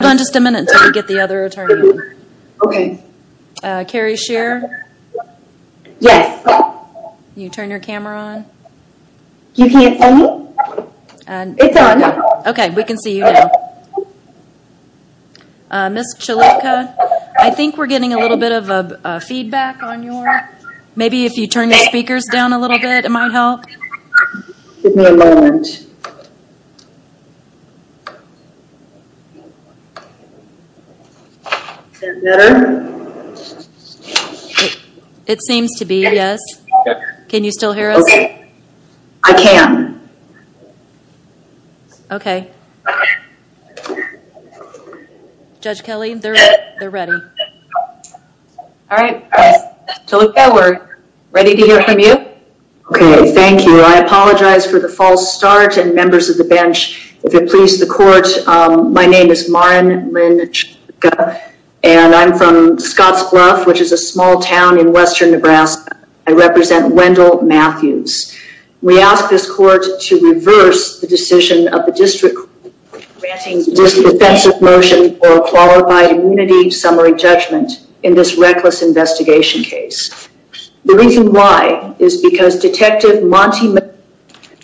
I think we're getting a little bit of a feedback on your, maybe if you turn your speakers down a little bit it might help. Give me a moment. Is that better? It seems to be, yes. Can you still hear us? Okay, I can. Okay. Judge Kelly, they're ready. All right, Taluka, we're ready to hear from you. Okay, thank you. I apologize for the false start and members of the bench. If it pleases the court, my name is Maureen Lynn, and I'm from Scotts Bluff, which is a small town in western Nebraska. I represent Wendell Matthews. We ask this court to reverse the decision of the district granting this offensive motion for a qualified immunity summary judgment in this reckless investigation case. The reason why is because Detective Monte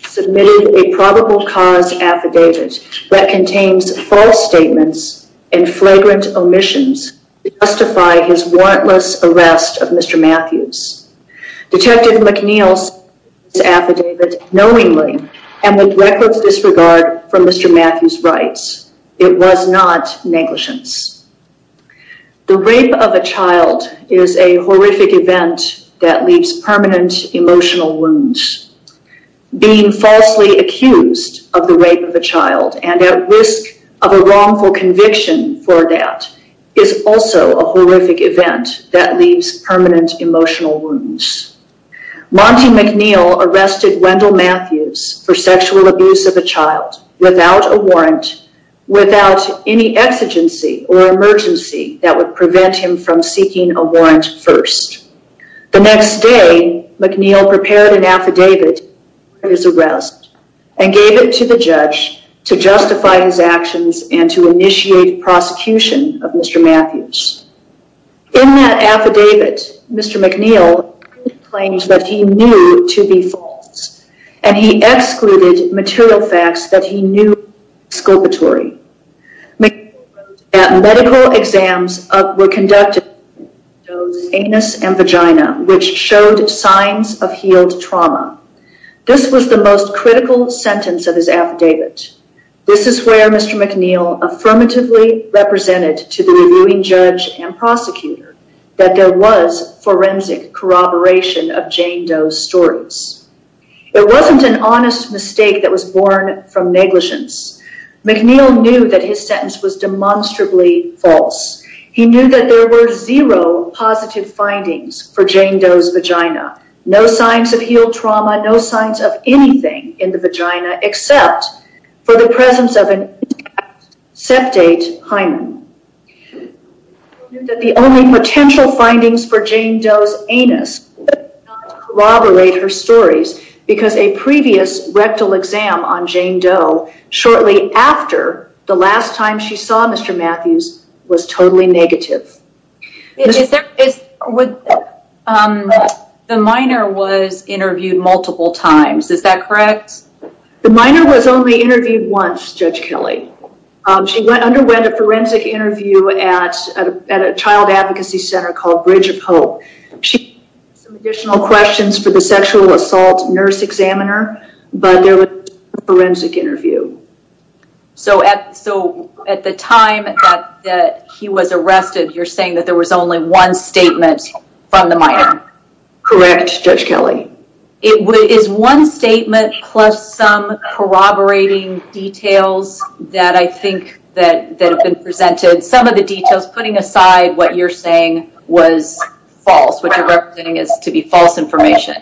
submitted a probable cause affidavit that contains false statements and flagrant omissions to justify his warrantless arrest of Mr. Matthews. Detective McNeil submitted this affidavit knowingly and with record disregard for Mr. Matthews' rights. It was not negligence. The rape of a child is a horrific event that leaves permanent emotional wounds. Being falsely accused of the rape of a child and at risk of a wrongful conviction for that is also a horrific event that leaves permanent emotional wounds. Monte McNeil arrested Wendell Matthews for sexual abuse of a child without a warrant, without any exigency or emergency that would prevent him from seeking a warrant first. The next day, McNeil prepared an affidavit for his arrest and gave it to the judge to justify his actions and to initiate prosecution of Mr. Matthews. In that affidavit, Mr. McNeil claimed that he knew to be false, and he excluded material facts that he knew were exculpatory. McNeil wrote that medical exams were conducted on Doe's anus and vagina, which showed signs of healed trauma. This was the most critical sentence of his affidavit. This is where Mr. McNeil affirmatively represented to the reviewing judge and prosecutor that there was forensic corroboration of Jane Doe's stories. It wasn't an honest mistake that was born from negligence. McNeil knew that his sentence was demonstrably false. He knew that there were zero positive findings for Jane Doe's vagina. No signs of healed trauma, no signs of anything in the vagina except for the presence of an intact septate hymen. He knew that the only potential findings for Jane Doe's anus were not to corroborate her stories, because a previous rectal exam on Jane Doe shortly after the last time she saw Mr. Matthews was totally negative. The minor was interviewed multiple times, is that correct? The minor was only interviewed once, Judge Kelly. She underwent a forensic interview at a child advocacy center called Bridge of Hope. She had some additional questions for the sexual assault nurse examiner, but there was no forensic interview. So at the time that he was arrested, you're saying that there was only one statement from the minor? Correct, Judge Kelly. Is one statement plus some corroborating details that I think that have been presented, some of the details, putting aside what you're saying was false, what you're representing is to be false information.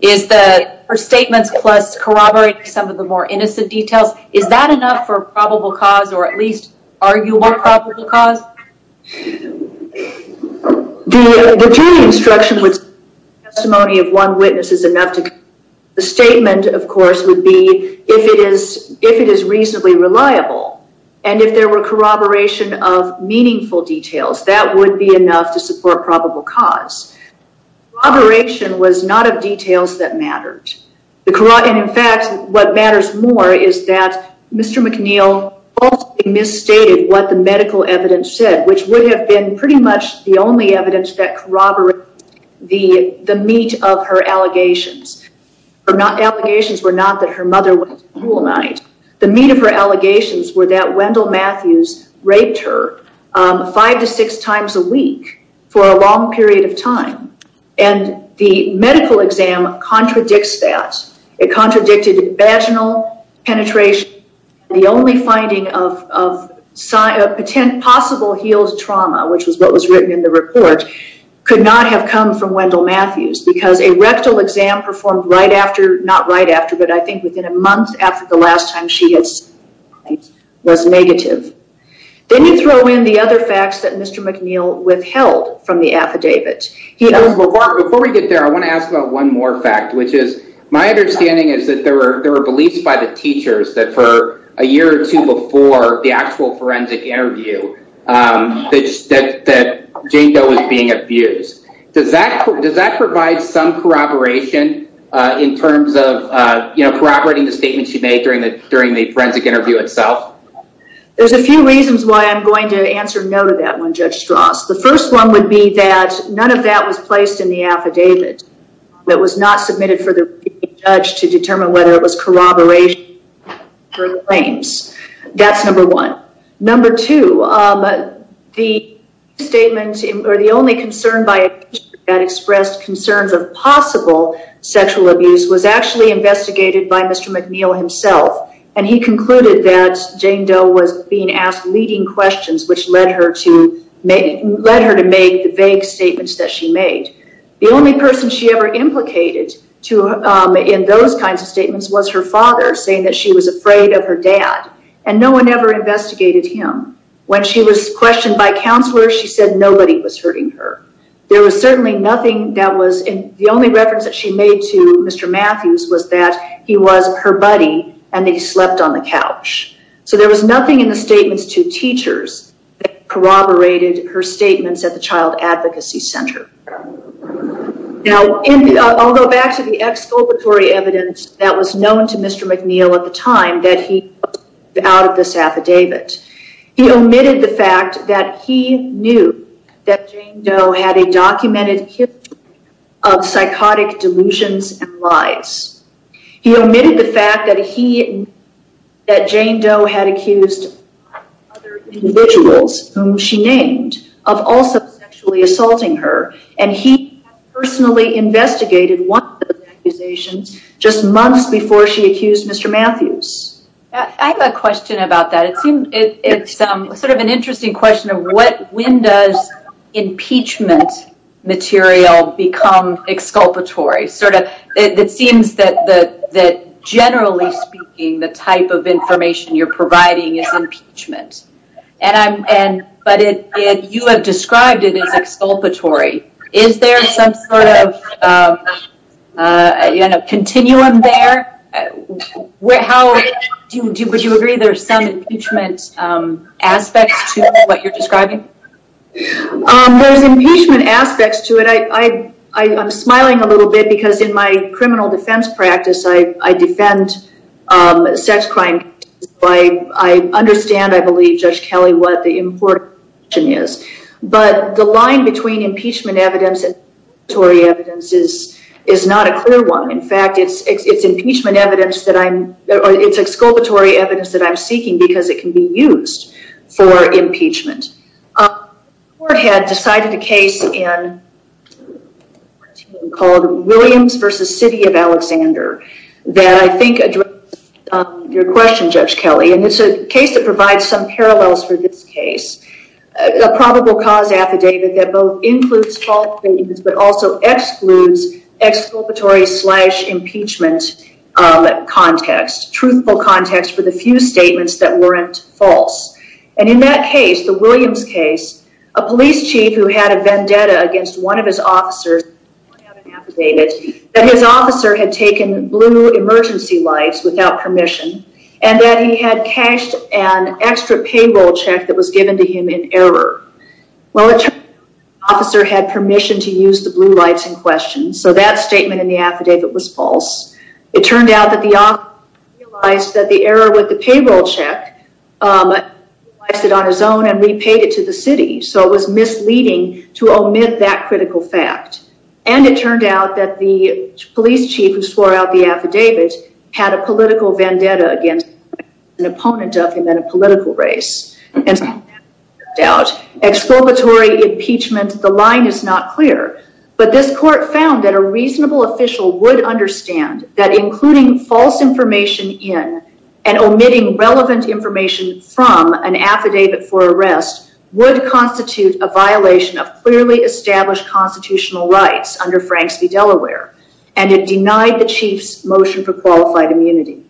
Is the statements plus corroborating some of the more innocent details, is that enough for probable cause or at least arguable probable cause? The jury instruction was testimony of one witness is enough. The statement, of course, would be if it is reasonably reliable, and if there were corroboration of meaningful details, that would be enough to support probable cause. Corroboration was not of details that mattered. In fact, what matters more is that Mr. McNeil falsely misstated what the medical evidence said, which would have been pretty much the only evidence that corroborated the meat of her allegations. Her allegations were not that her mother was a cruel knight. The meat of her allegations were that Wendell Matthews raped her five to six times a week for a long period of time, and the medical exam contradicts that. It contradicted vaginal penetration. The only finding of possible healed trauma, which was what was written in the report, could not have come from Wendell Matthews because a rectal exam performed right after, not right after, but I think within a month after the last time she had seen him was negative. Then you throw in the other facts that Mr. McNeil withheld from the affidavit. Before we get there, I want to ask about one more fact, which is my understanding is that there were beliefs by the teachers that for a year or two before the actual forensic interview that Jane Doe was being abused. Does that provide some corroboration in terms of corroborating the statement she made during the forensic interview itself? There's a few reasons why I'm going to answer no to that one, Judge Strauss. The first one would be that none of that was placed in the affidavit. It was not submitted for the judge to determine whether it was corroboration of her claims. That's number one. Number two, the statement or the only concern by a teacher that expressed concerns of possible sexual abuse was actually investigated by Mr. McNeil himself. He concluded that Jane Doe was being asked leading questions, which led her to make the vague statements that she made. The only person she ever implicated in those kinds of statements was her father, saying that she was afraid of her dad, and no one ever investigated him. When she was questioned by counselors, she said nobody was hurting her. The only reference that she made to Mr. Matthews was that he was her buddy and that he slept on the couch. There was nothing in the statements to teachers that corroborated her statements at the Child Advocacy Center. I'll go back to the exculpatory evidence that was known to Mr. McNeil at the time that he put out of this affidavit. He omitted the fact that he knew that Jane Doe had a documented history of psychotic delusions and lies. He omitted the fact that he knew that Jane Doe had accused other individuals whom she named of also sexually assaulting her, and he personally investigated one of those accusations just months before she accused Mr. Matthews. I have a question about that. It's sort of an interesting question of when does impeachment material become exculpatory? It seems that generally speaking, the type of information you're providing is impeachment, but you have described it as exculpatory. Is there some sort of continuum there? Would you agree there are some impeachment aspects to what you're describing? There's impeachment aspects to it. I'm smiling a little bit because in my criminal defense practice, I defend sex crime cases. I understand, I believe, Judge Kelly, what the important question is. But the line between impeachment evidence and exculpatory evidence is not a clear one. In fact, it's exculpatory evidence that I'm seeking because it can be used for impeachment. The court had decided a case in 2014 called Williams v. City of Alexander that I think addressed your question, Judge Kelly. It's a case that provides some parallels for this case. A probable cause affidavit that both includes false statements but also excludes exculpatory-slash-impeachment context. Truthful context for the few statements that weren't false. And in that case, the Williams case, a police chief who had a vendetta against one of his officers pointed out an affidavit that his officer had taken blue emergency lights without permission and that he had cashed an extra payroll check that was given to him in error. Well, the officer had permission to use the blue lights in question, so that statement in the affidavit was false. It turned out that the officer realized that the error with the payroll check, realized it on his own and repaid it to the city. So it was misleading to omit that critical fact. And it turned out that the police chief who swore out the affidavit had a political vendetta against an opponent of him in a political race. And so that turned out, exculpatory impeachment, the line is not clear. But this court found that a reasonable official would understand that including false information in and omitting relevant information from an affidavit for arrest would constitute a violation of clearly established constitutional rights under Franks v. Delaware. And it denied the chief's motion for qualified immunity.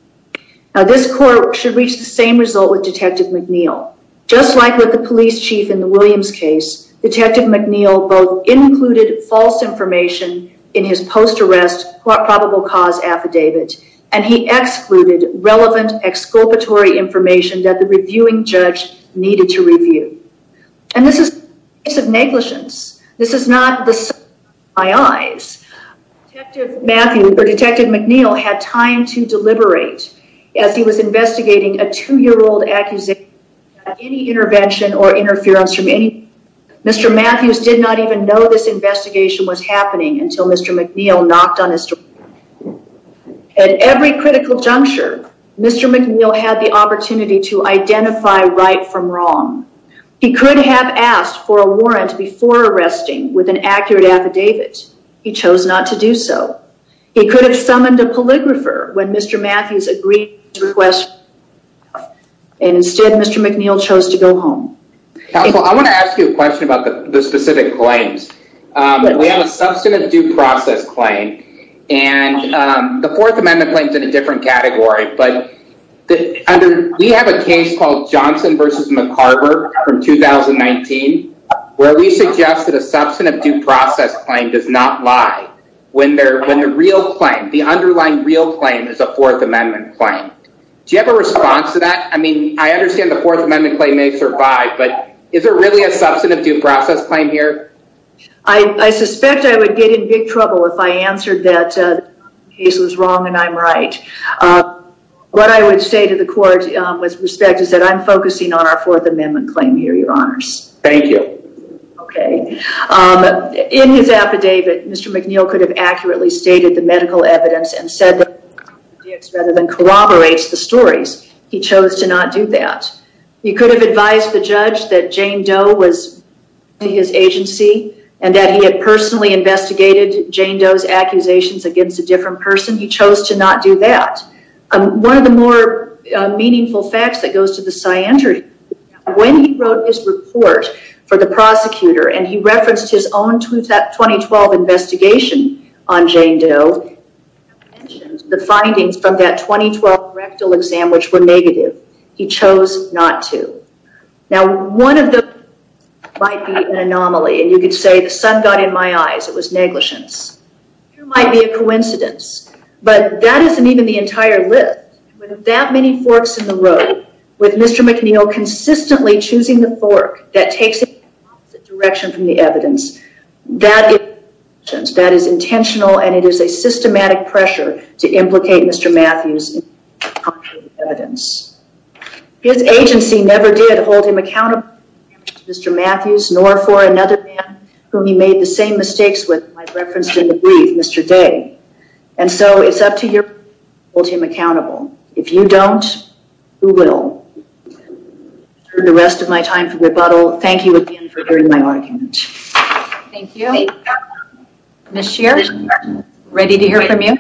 Now, this court should reach the same result with Detective McNeil. Just like with the police chief in the Williams case, Detective McNeil both included false information in his post-arrest probable cause affidavit and he excluded relevant exculpatory information that the reviewing judge needed to review. And this is a case of negligence. This is not the sight of my eyes. Detective McNeil had time to deliberate as he was investigating a two-year-old accusation of any intervention or interference from anyone. Mr. Matthews did not even know this investigation was happening until Mr. McNeil knocked on his door. At every critical juncture, Mr. McNeil had the opportunity to identify right from wrong. He could have asked for a warrant before arresting with an accurate affidavit. He chose not to do so. He could have summoned a polygrapher when Mr. Matthews agreed to request. And instead, Mr. McNeil chose to go home. Counsel, I want to ask you a question about the specific claims. We have a substantive due process claim and the Fourth Amendment claims in a different category. But we have a case called Johnson v. McCarver from 2019 where we suggest that a substantive due process claim does not lie. When the underlying real claim is a Fourth Amendment claim. Do you have a response to that? I mean, I understand the Fourth Amendment claim may survive, but is there really a substantive due process claim here? I suspect I would get in big trouble if I answered that the case was wrong and I'm right. What I would say to the court with respect is that I'm focusing on our Fourth Amendment claim here, Your Honors. Thank you. Okay. In his affidavit, Mr. McNeil could have accurately stated the medical evidence and said that it corroborates the stories. He chose to not do that. He could have advised the judge that Jane Doe was his agency and that he had personally investigated Jane Doe's accusations against a different person. He chose to not do that. One of the more meaningful facts that goes to the scientry, when he wrote his report for the prosecutor and he referenced his own 2012 investigation on Jane Doe, he mentioned the findings from that 2012 rectal exam which were negative. He chose not to. Now, one of those might be an anomaly, and you could say the sun got in my eyes. It was negligence. It might be a coincidence, but that isn't even the entire list. With that many forks in the road, with Mr. McNeil consistently choosing the fork that takes him in the opposite direction from the evidence, that is intentional and it is a systematic pressure to implicate Mr. Matthews in the contrary evidence. His agency never did hold him accountable to Mr. Matthews, nor for another man whom he made the same mistakes with, as I referenced in the brief, Mr. Day. And so it's up to you to hold him accountable. If you don't, who will? For the rest of my time for rebuttal, thank you again for hearing my argument. Thank you. Ms. Scheer, ready to hear from you?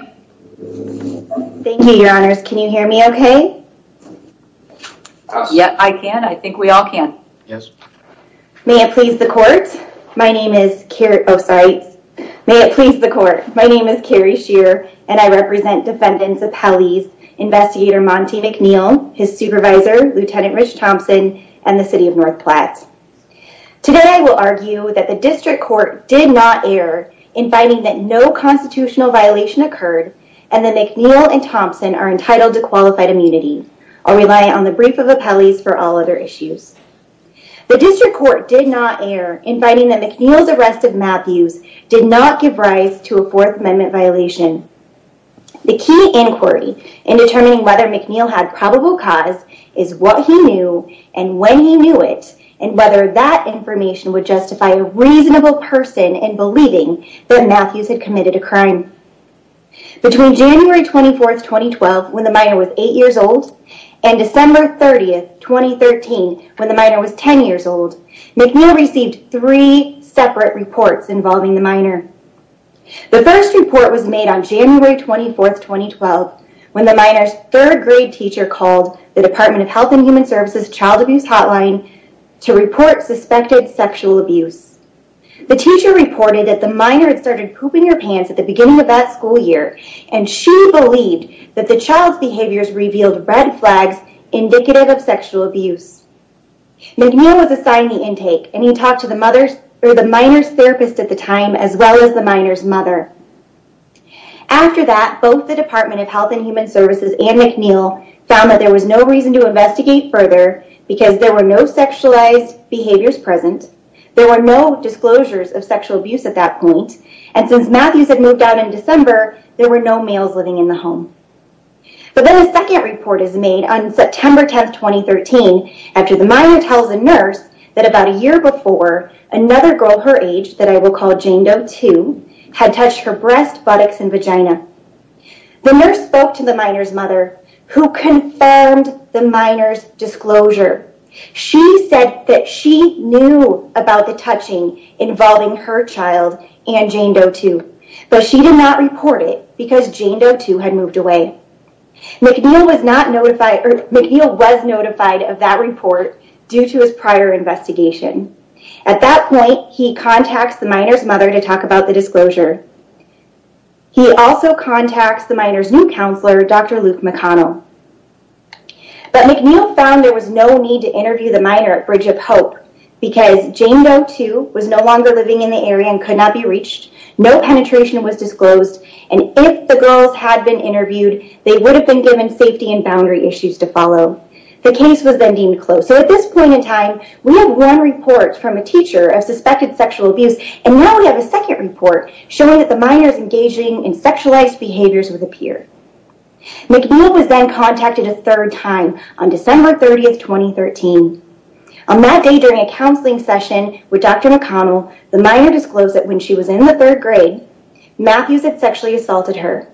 Thank you, your honors. Can you hear me okay? Yes. Yeah, I can. I think we all can. Yes. May it please the court. My name is Carrie Scheer, and I represent defendants appellees, Investigator Monty McNeil, his supervisor, Lieutenant Rich Thompson, and the city of North Platte. Today, I will argue that the district court did not err in finding that no constitutional violation occurred, and that McNeil and Thompson are entitled to qualified immunity. I'll rely on the brief of appellees for all other issues. The district court did not err in finding that McNeil's arrest of Matthews did not give rise to a Fourth Amendment violation. The key inquiry in determining whether McNeil had probable cause is what he knew and when he knew it, and whether that information would justify a reasonable person in believing that Matthews had committed a crime. Between January 24, 2012, when the minor was 8 years old, and December 30, 2013, when the minor was 10 years old, McNeil received three separate reports involving the minor. The first report was made on January 24, 2012, when the minor's third grade teacher called the Department of Health and Human Services' child abuse hotline to report suspected sexual abuse. The teacher reported that the minor had started pooping her pants at the beginning of that school year, and she believed that the child's behaviors revealed red flags indicative of sexual abuse. McNeil was assigned the intake, and he talked to the minor's therapist at the time, as well as the minor's mother. After that, both the Department of Health and Human Services and McNeil found that there was no reason to investigate further because there were no sexualized behaviors present, there were no disclosures of sexual abuse at that point, and since Matthews had moved out in December, there were no males living in the home. But then a second report is made on September 10, 2013, after the minor tells a nurse that about a year before, another girl her age, that I will call Jane Doe 2, had touched her breasts, buttocks, and vagina. The nurse spoke to the minor's mother, who confirmed the minor's disclosure. She said that she knew about the touching involving her child and Jane Doe 2, but she did not report it because Jane Doe 2 had moved away. McNeil was notified of that report due to his prior investigation. At that point, he contacts the minor's mother to talk about the disclosure. He also contacts the minor's new counselor, Dr. Luke McConnell. But McNeil found there was no need to interview the minor at Bridge of Hope because Jane Doe 2 was no longer living in the area and could not be reached, no penetration was disclosed, and if the girls had been interviewed, they would have been given safety and boundary issues to follow. The case was then deemed closed. So at this point in time, we have one report from a teacher of suspected sexual abuse, and now we have a second report showing that the minor's engaging in sexualized behaviors with a peer. McNeil was then contacted a third time on December 30, 2013. On that day during a counseling session with Dr. McConnell, the minor disclosed that when she was in the third grade, Matthews had sexually assaulted her.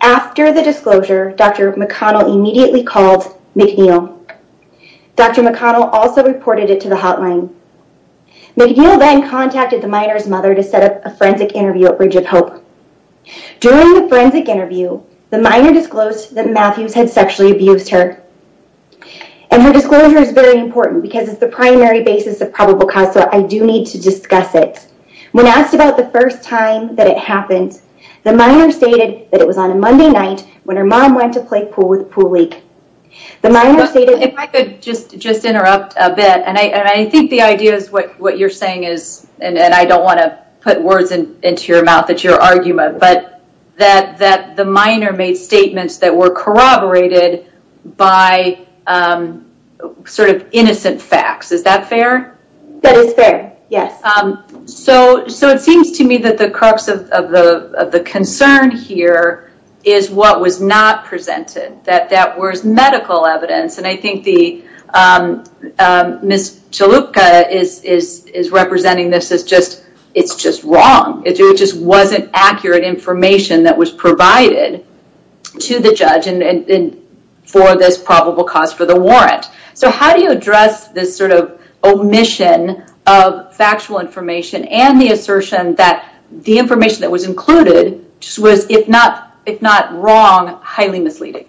After the disclosure, Dr. McConnell immediately called McNeil. Dr. McConnell also reported it to the hotline. McNeil then contacted the minor's mother to set up a forensic interview at Bridge of Hope. During the forensic interview, the minor disclosed that Matthews had sexually abused her, and her disclosure is very important because it's the primary basis of probable cause, so I do need to discuss it. When asked about the first time that it happened, the minor stated that it was on a Monday night when her mom went to play pool with a pool league. If I could just interrupt a bit, and I think the idea is what you're saying is, and I don't want to put words into your mouth, it's your argument, but that the minor made statements that were corroborated by sort of innocent facts. Is that fair? That is fair, yes. It seems to me that the crux of the concern here is what was not presented, that that was medical evidence, and I think Ms. Chalupka is representing this as just, it's just wrong. It just wasn't accurate information that was provided to the judge for this probable cause for the warrant. So how do you address this sort of omission of factual information and the assertion that the information that was included was, if not wrong, highly misleading?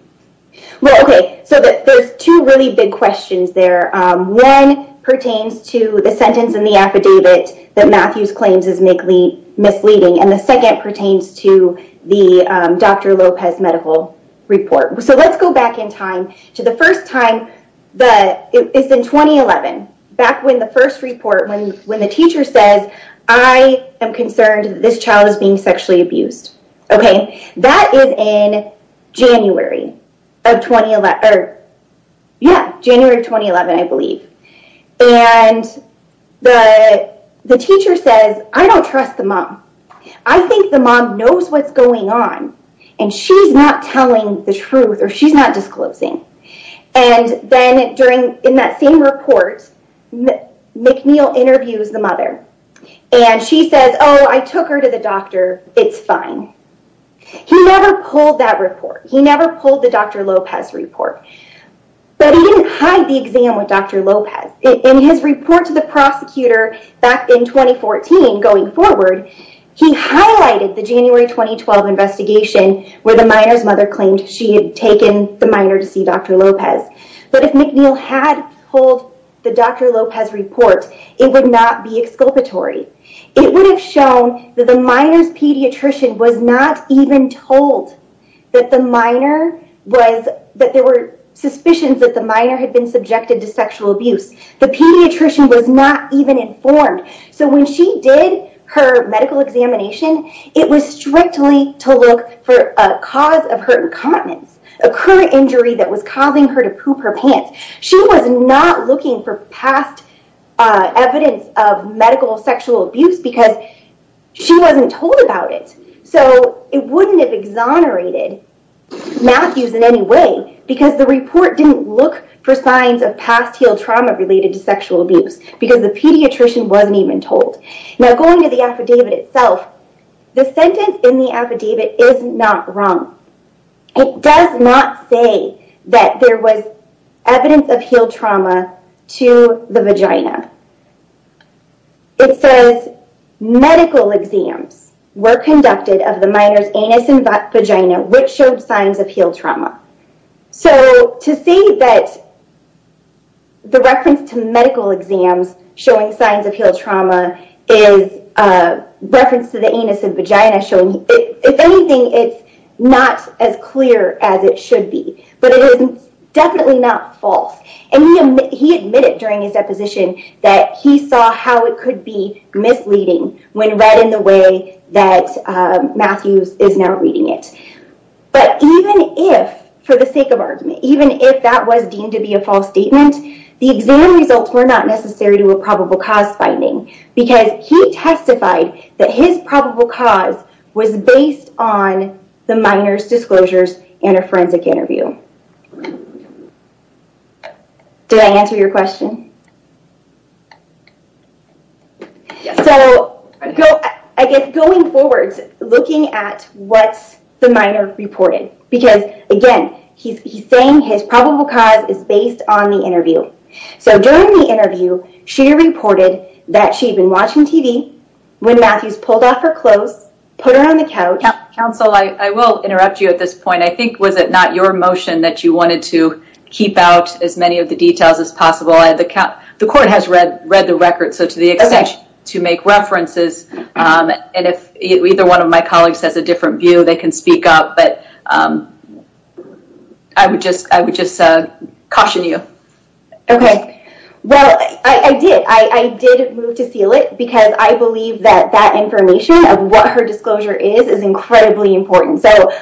Well, okay, so there's two really big questions there. One pertains to the sentence in the affidavit that Matthews claims is misleading, and the second pertains to the Dr. Lopez medical report. So let's go back in time to the first time. It's in 2011, back when the first report, when the teacher says, I am concerned that this child is being sexually abused. Okay, that is in January of 2011, I believe. And the teacher says, I don't trust the mom. I think the mom knows what's going on, and she's not telling the truth, or she's not disclosing. And then during, in that same report, McNeil interviews the mother, and she says, oh, I took her to the doctor, it's fine. He never pulled that report. He never pulled the Dr. Lopez report. But he didn't hide the exam with Dr. Lopez. In his report to the prosecutor back in 2014, going forward, he highlighted the January 2012 investigation where the minor's mother claimed she had taken the minor to see Dr. Lopez. But if McNeil had pulled the Dr. Lopez report, it would not be exculpatory. It would have shown that the minor's pediatrician was not even told that the minor was, that there were suspicions that the minor had been subjected to sexual abuse. The pediatrician was not even informed. So when she did her medical examination, it was strictly to look for a cause of her incontinence, a current injury that was causing her to poop her pants. She was not looking for past evidence of medical sexual abuse because she wasn't told about it. So it wouldn't have exonerated Matthews in any way because the report didn't look for signs of past heel trauma related to sexual abuse because the pediatrician wasn't even told. Now going to the affidavit itself, the sentence in the affidavit is not wrong. It does not say that there was evidence of heel trauma to the vagina. It says medical exams were conducted of the minor's anus and vagina, which showed signs of heel trauma. So to say that the reference to medical exams showing signs of heel trauma is a reference to the anus and vagina showing, if anything, it's not as clear as it should be. But it is definitely not false. And he admitted during his deposition that he saw how it could be misleading when read in the way that Matthews is now reading it. But even if, for the sake of argument, even if that was deemed to be a false statement, the exam results were not necessary to a probable cause finding because he testified that his probable cause was based on the minor's disclosures in a forensic interview. Did I answer your question? Yes. So I guess going forward, looking at what the minor reported, because again, he's saying his probable cause is based on the interview. So during the interview, she reported that she'd been watching TV when Matthews pulled off her clothes, put her on the couch. Counsel, I will interrupt you at this point. I think, was it not your motion that you wanted to keep out as many of the details as possible? The court has read the record, so to the extent to make references, and if either one of my colleagues has a different view, they can speak up. But I would just caution you. Okay. Well, I did. I did move to seal it because I believe that that information of what her disclosure is is incredibly important. So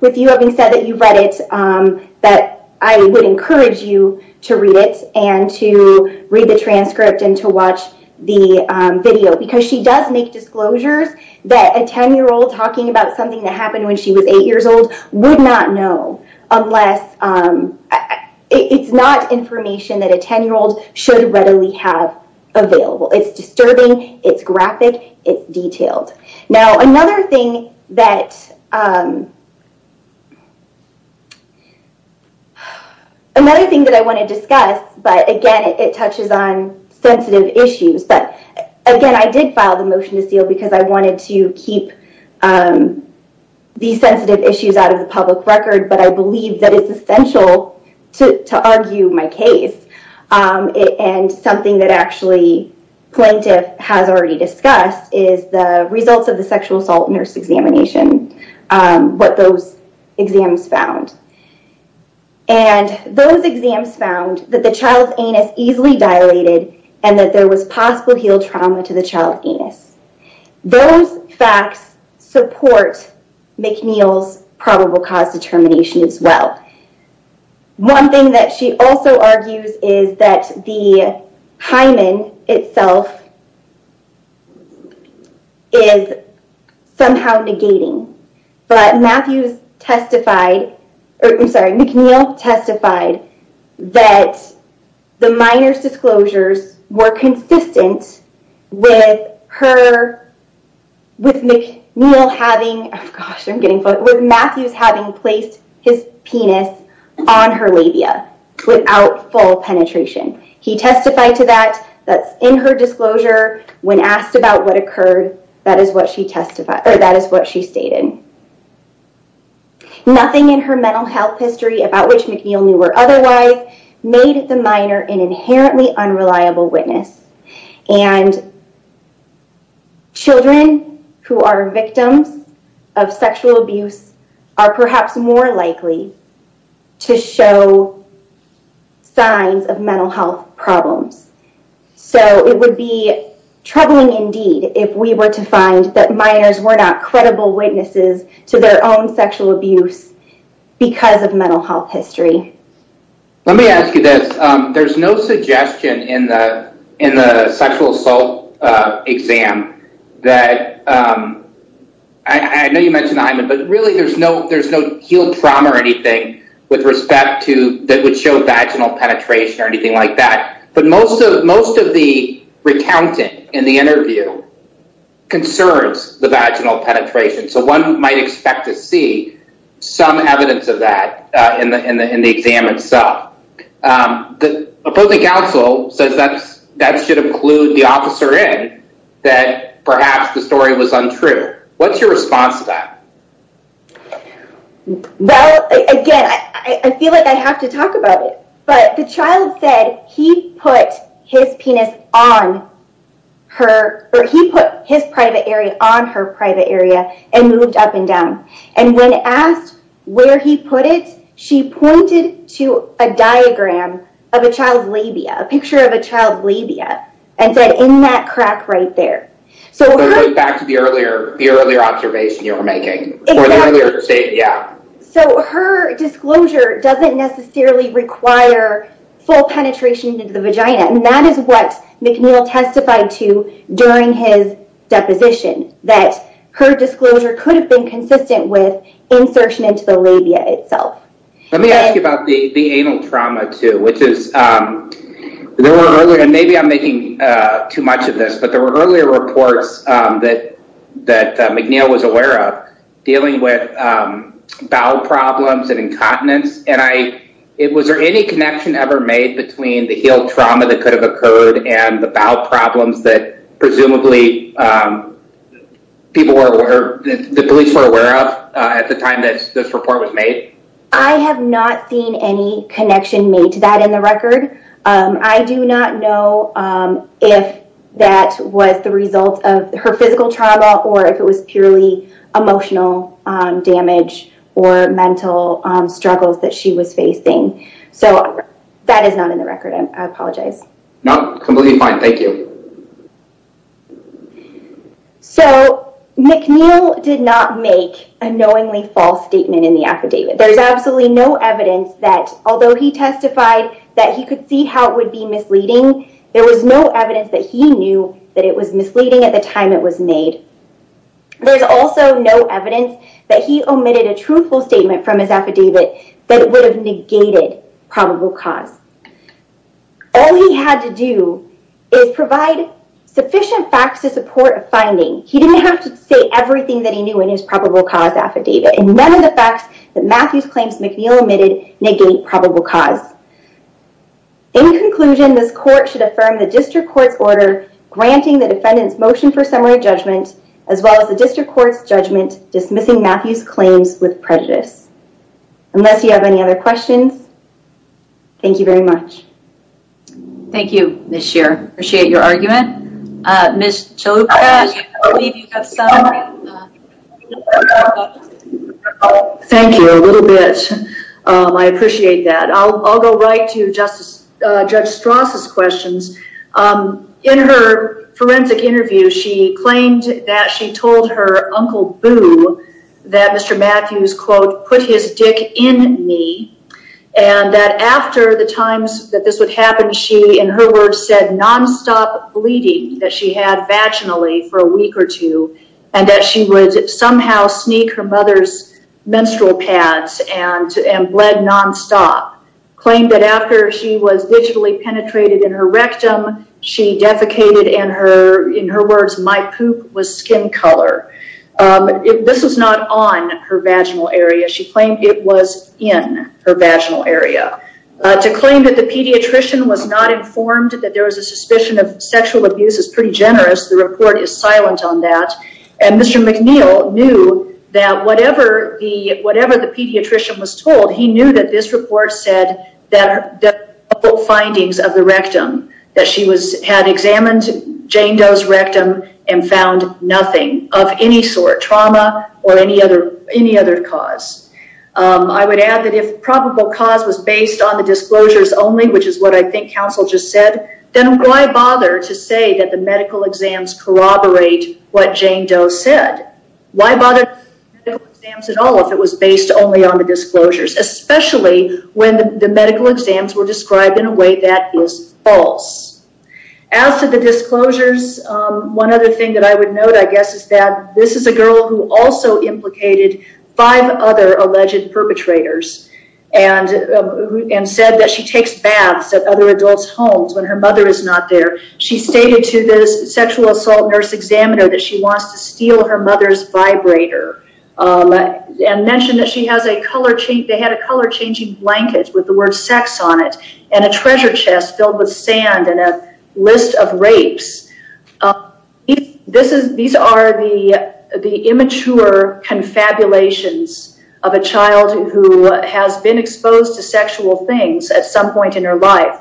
with you having said that you've read it, that I would encourage you to read it and to read the transcript and to watch the video because she does make disclosures that a 10-year-old talking about something that happened when she was 8 years old would not know unless it's not information that a 10-year-old should readily have available. It's graphic. It's detailed. Now, another thing that I want to discuss, but again, it touches on sensitive issues, but again, I did file the motion to seal because I wanted to keep these sensitive issues out of the public record, but I believe that it's essential to argue my case. And something that actually plaintiff has already discussed is the results of the sexual assault nurse examination, what those exams found. And those exams found that the child's anus easily dilated and that there was possible heel trauma to the child's anus. Those facts support McNeil's probable cause determination as well. One thing that she also argues is that the hymen itself is somehow negating, but McNeil testified that the minor's disclosures were consistent with Matthews having placed his penis on her labia without full penetration. He testified to that, that's in her disclosure. When asked about what occurred, that is what she stated. Nothing in her mental health history about which McNeil knew or otherwise made the minor an inherently unreliable witness and children who are victims of sexual abuse are perhaps more likely to show signs of mental health problems. So it would be troubling indeed if we were to find that minors were not credible witnesses to their own sexual abuse because of mental health history. Let me ask you this. There's no suggestion in the sexual assault exam that, I know you mentioned the hymen, but really there's no heel trauma or anything that would show vaginal penetration or anything like that. But most of the recounting in the interview concerns the vaginal penetration. So one might expect to see some evidence of that in the exam itself. The opposing counsel says that should have clued the officer in that perhaps the story was untrue. What's your response to that? Well, again, I feel like I have to talk about it, but the child said he put his penis on her, or he put his private area on her private area and moved up and down. And when asked where he put it, she pointed to a diagram of a child's labia, a picture of a child's labia, and said in that crack right there. So going back to the earlier observation you were making. Exactly. For the earlier state, yeah. So her disclosure doesn't necessarily require full penetration into the vagina. And that is what McNeil testified to during his deposition, that her disclosure could have been consistent with insertion into the labia itself. Let me ask you about the anal trauma too, which is, and maybe I'm making too much of this, but there were earlier reports that McNeil was aware of dealing with bowel problems and incontinence. Was there any connection ever made between the heel trauma that could have occurred and the bowel problems that presumably the police were aware of at the time that this report was made? I have not seen any connection made to that in the record. I do not know if that was the result of her physical trauma or if it was purely emotional damage or mental struggles that she was facing. So that is not in the record. I apologize. No, completely fine. Thank you. So McNeil did not make a knowingly false statement in the affidavit. There is absolutely no evidence that, although he testified that he could see how it would be misleading, there was no evidence that he knew that it was misleading at the time it was made. There's also no evidence that he omitted a truthful statement from his affidavit that would have negated probable cause. All he had to do is provide sufficient facts to support a finding. He didn't have to say everything that he knew in his probable cause affidavit and none of the facts that Matthew's claims McNeil omitted negate probable cause. In conclusion, this court should affirm the district court's order granting the defendant's motion for summary judgment as well as the district court's judgment dismissing Matthew's claims with prejudice. Unless you have any other questions, thank you very much. Thank you, Ms. Scheer. I appreciate your argument. Ms. Chalupa, I believe you have some. Thank you. A little bit. I appreciate that. I'll go right to Judge Strauss' questions. In her forensic interview, she claimed that she told her Uncle Boo that Mr. Matthews, quote, put his dick in me and that after the times that this would happen, she, in her words, said nonstop bleeding that she had vaginally for a week or two and that she would somehow sneak her mother's menstrual pads and bled nonstop. Claimed that after she was digitally penetrated in her rectum, she defecated and in her words, my poop was skin color. This was not on her vaginal area. She claimed it was in her vaginal area. To claim that the pediatrician was not informed that there was a suspicion of sexual abuse is pretty generous. The report is silent on that, and Mr. McNeil knew that whatever the pediatrician was told, he knew that this report said that there were no findings of the rectum, that she had examined Jane Doe's rectum and found nothing of any sort, trauma or any other cause. I would add that if probable cause was based on the disclosures only, which is what I think counsel just said, then why bother to say that the medical exams corroborate what Jane Doe said? Why bother with the medical exams at all if it was based only on the disclosures, especially when the medical exams were described in a way that is false? As to the disclosures, one other thing that I would note, I guess, is that this is a girl who also implicated five other alleged perpetrators when her mother is not there. She stated to this sexual assault nurse examiner that she wants to steal her mother's vibrator and mentioned that they had a color-changing blanket with the word sex on it and a treasure chest filled with sand and a list of rapes. These are the immature confabulations of a child who has been exposed to sexual things at some point in her life,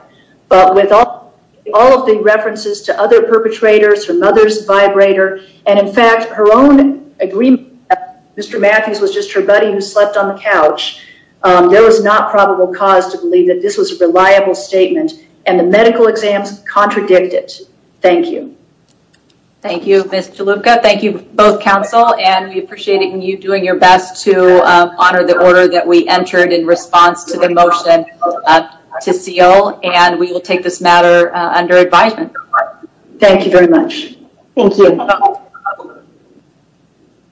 but with all of the references to other perpetrators, her mother's vibrator, and, in fact, her own agreement that Mr. Matthews was just her buddy who slept on the couch, there was not probable cause to believe that this was a reliable statement and the medical exams contradict it. Thank you. Thank you, Ms. Chalupka. Thank you, both counsel, and we appreciate you doing your best to honor the order that we entered in response to the motion to seal, and we will take this matter under advisement. Thank you very much. Thank you.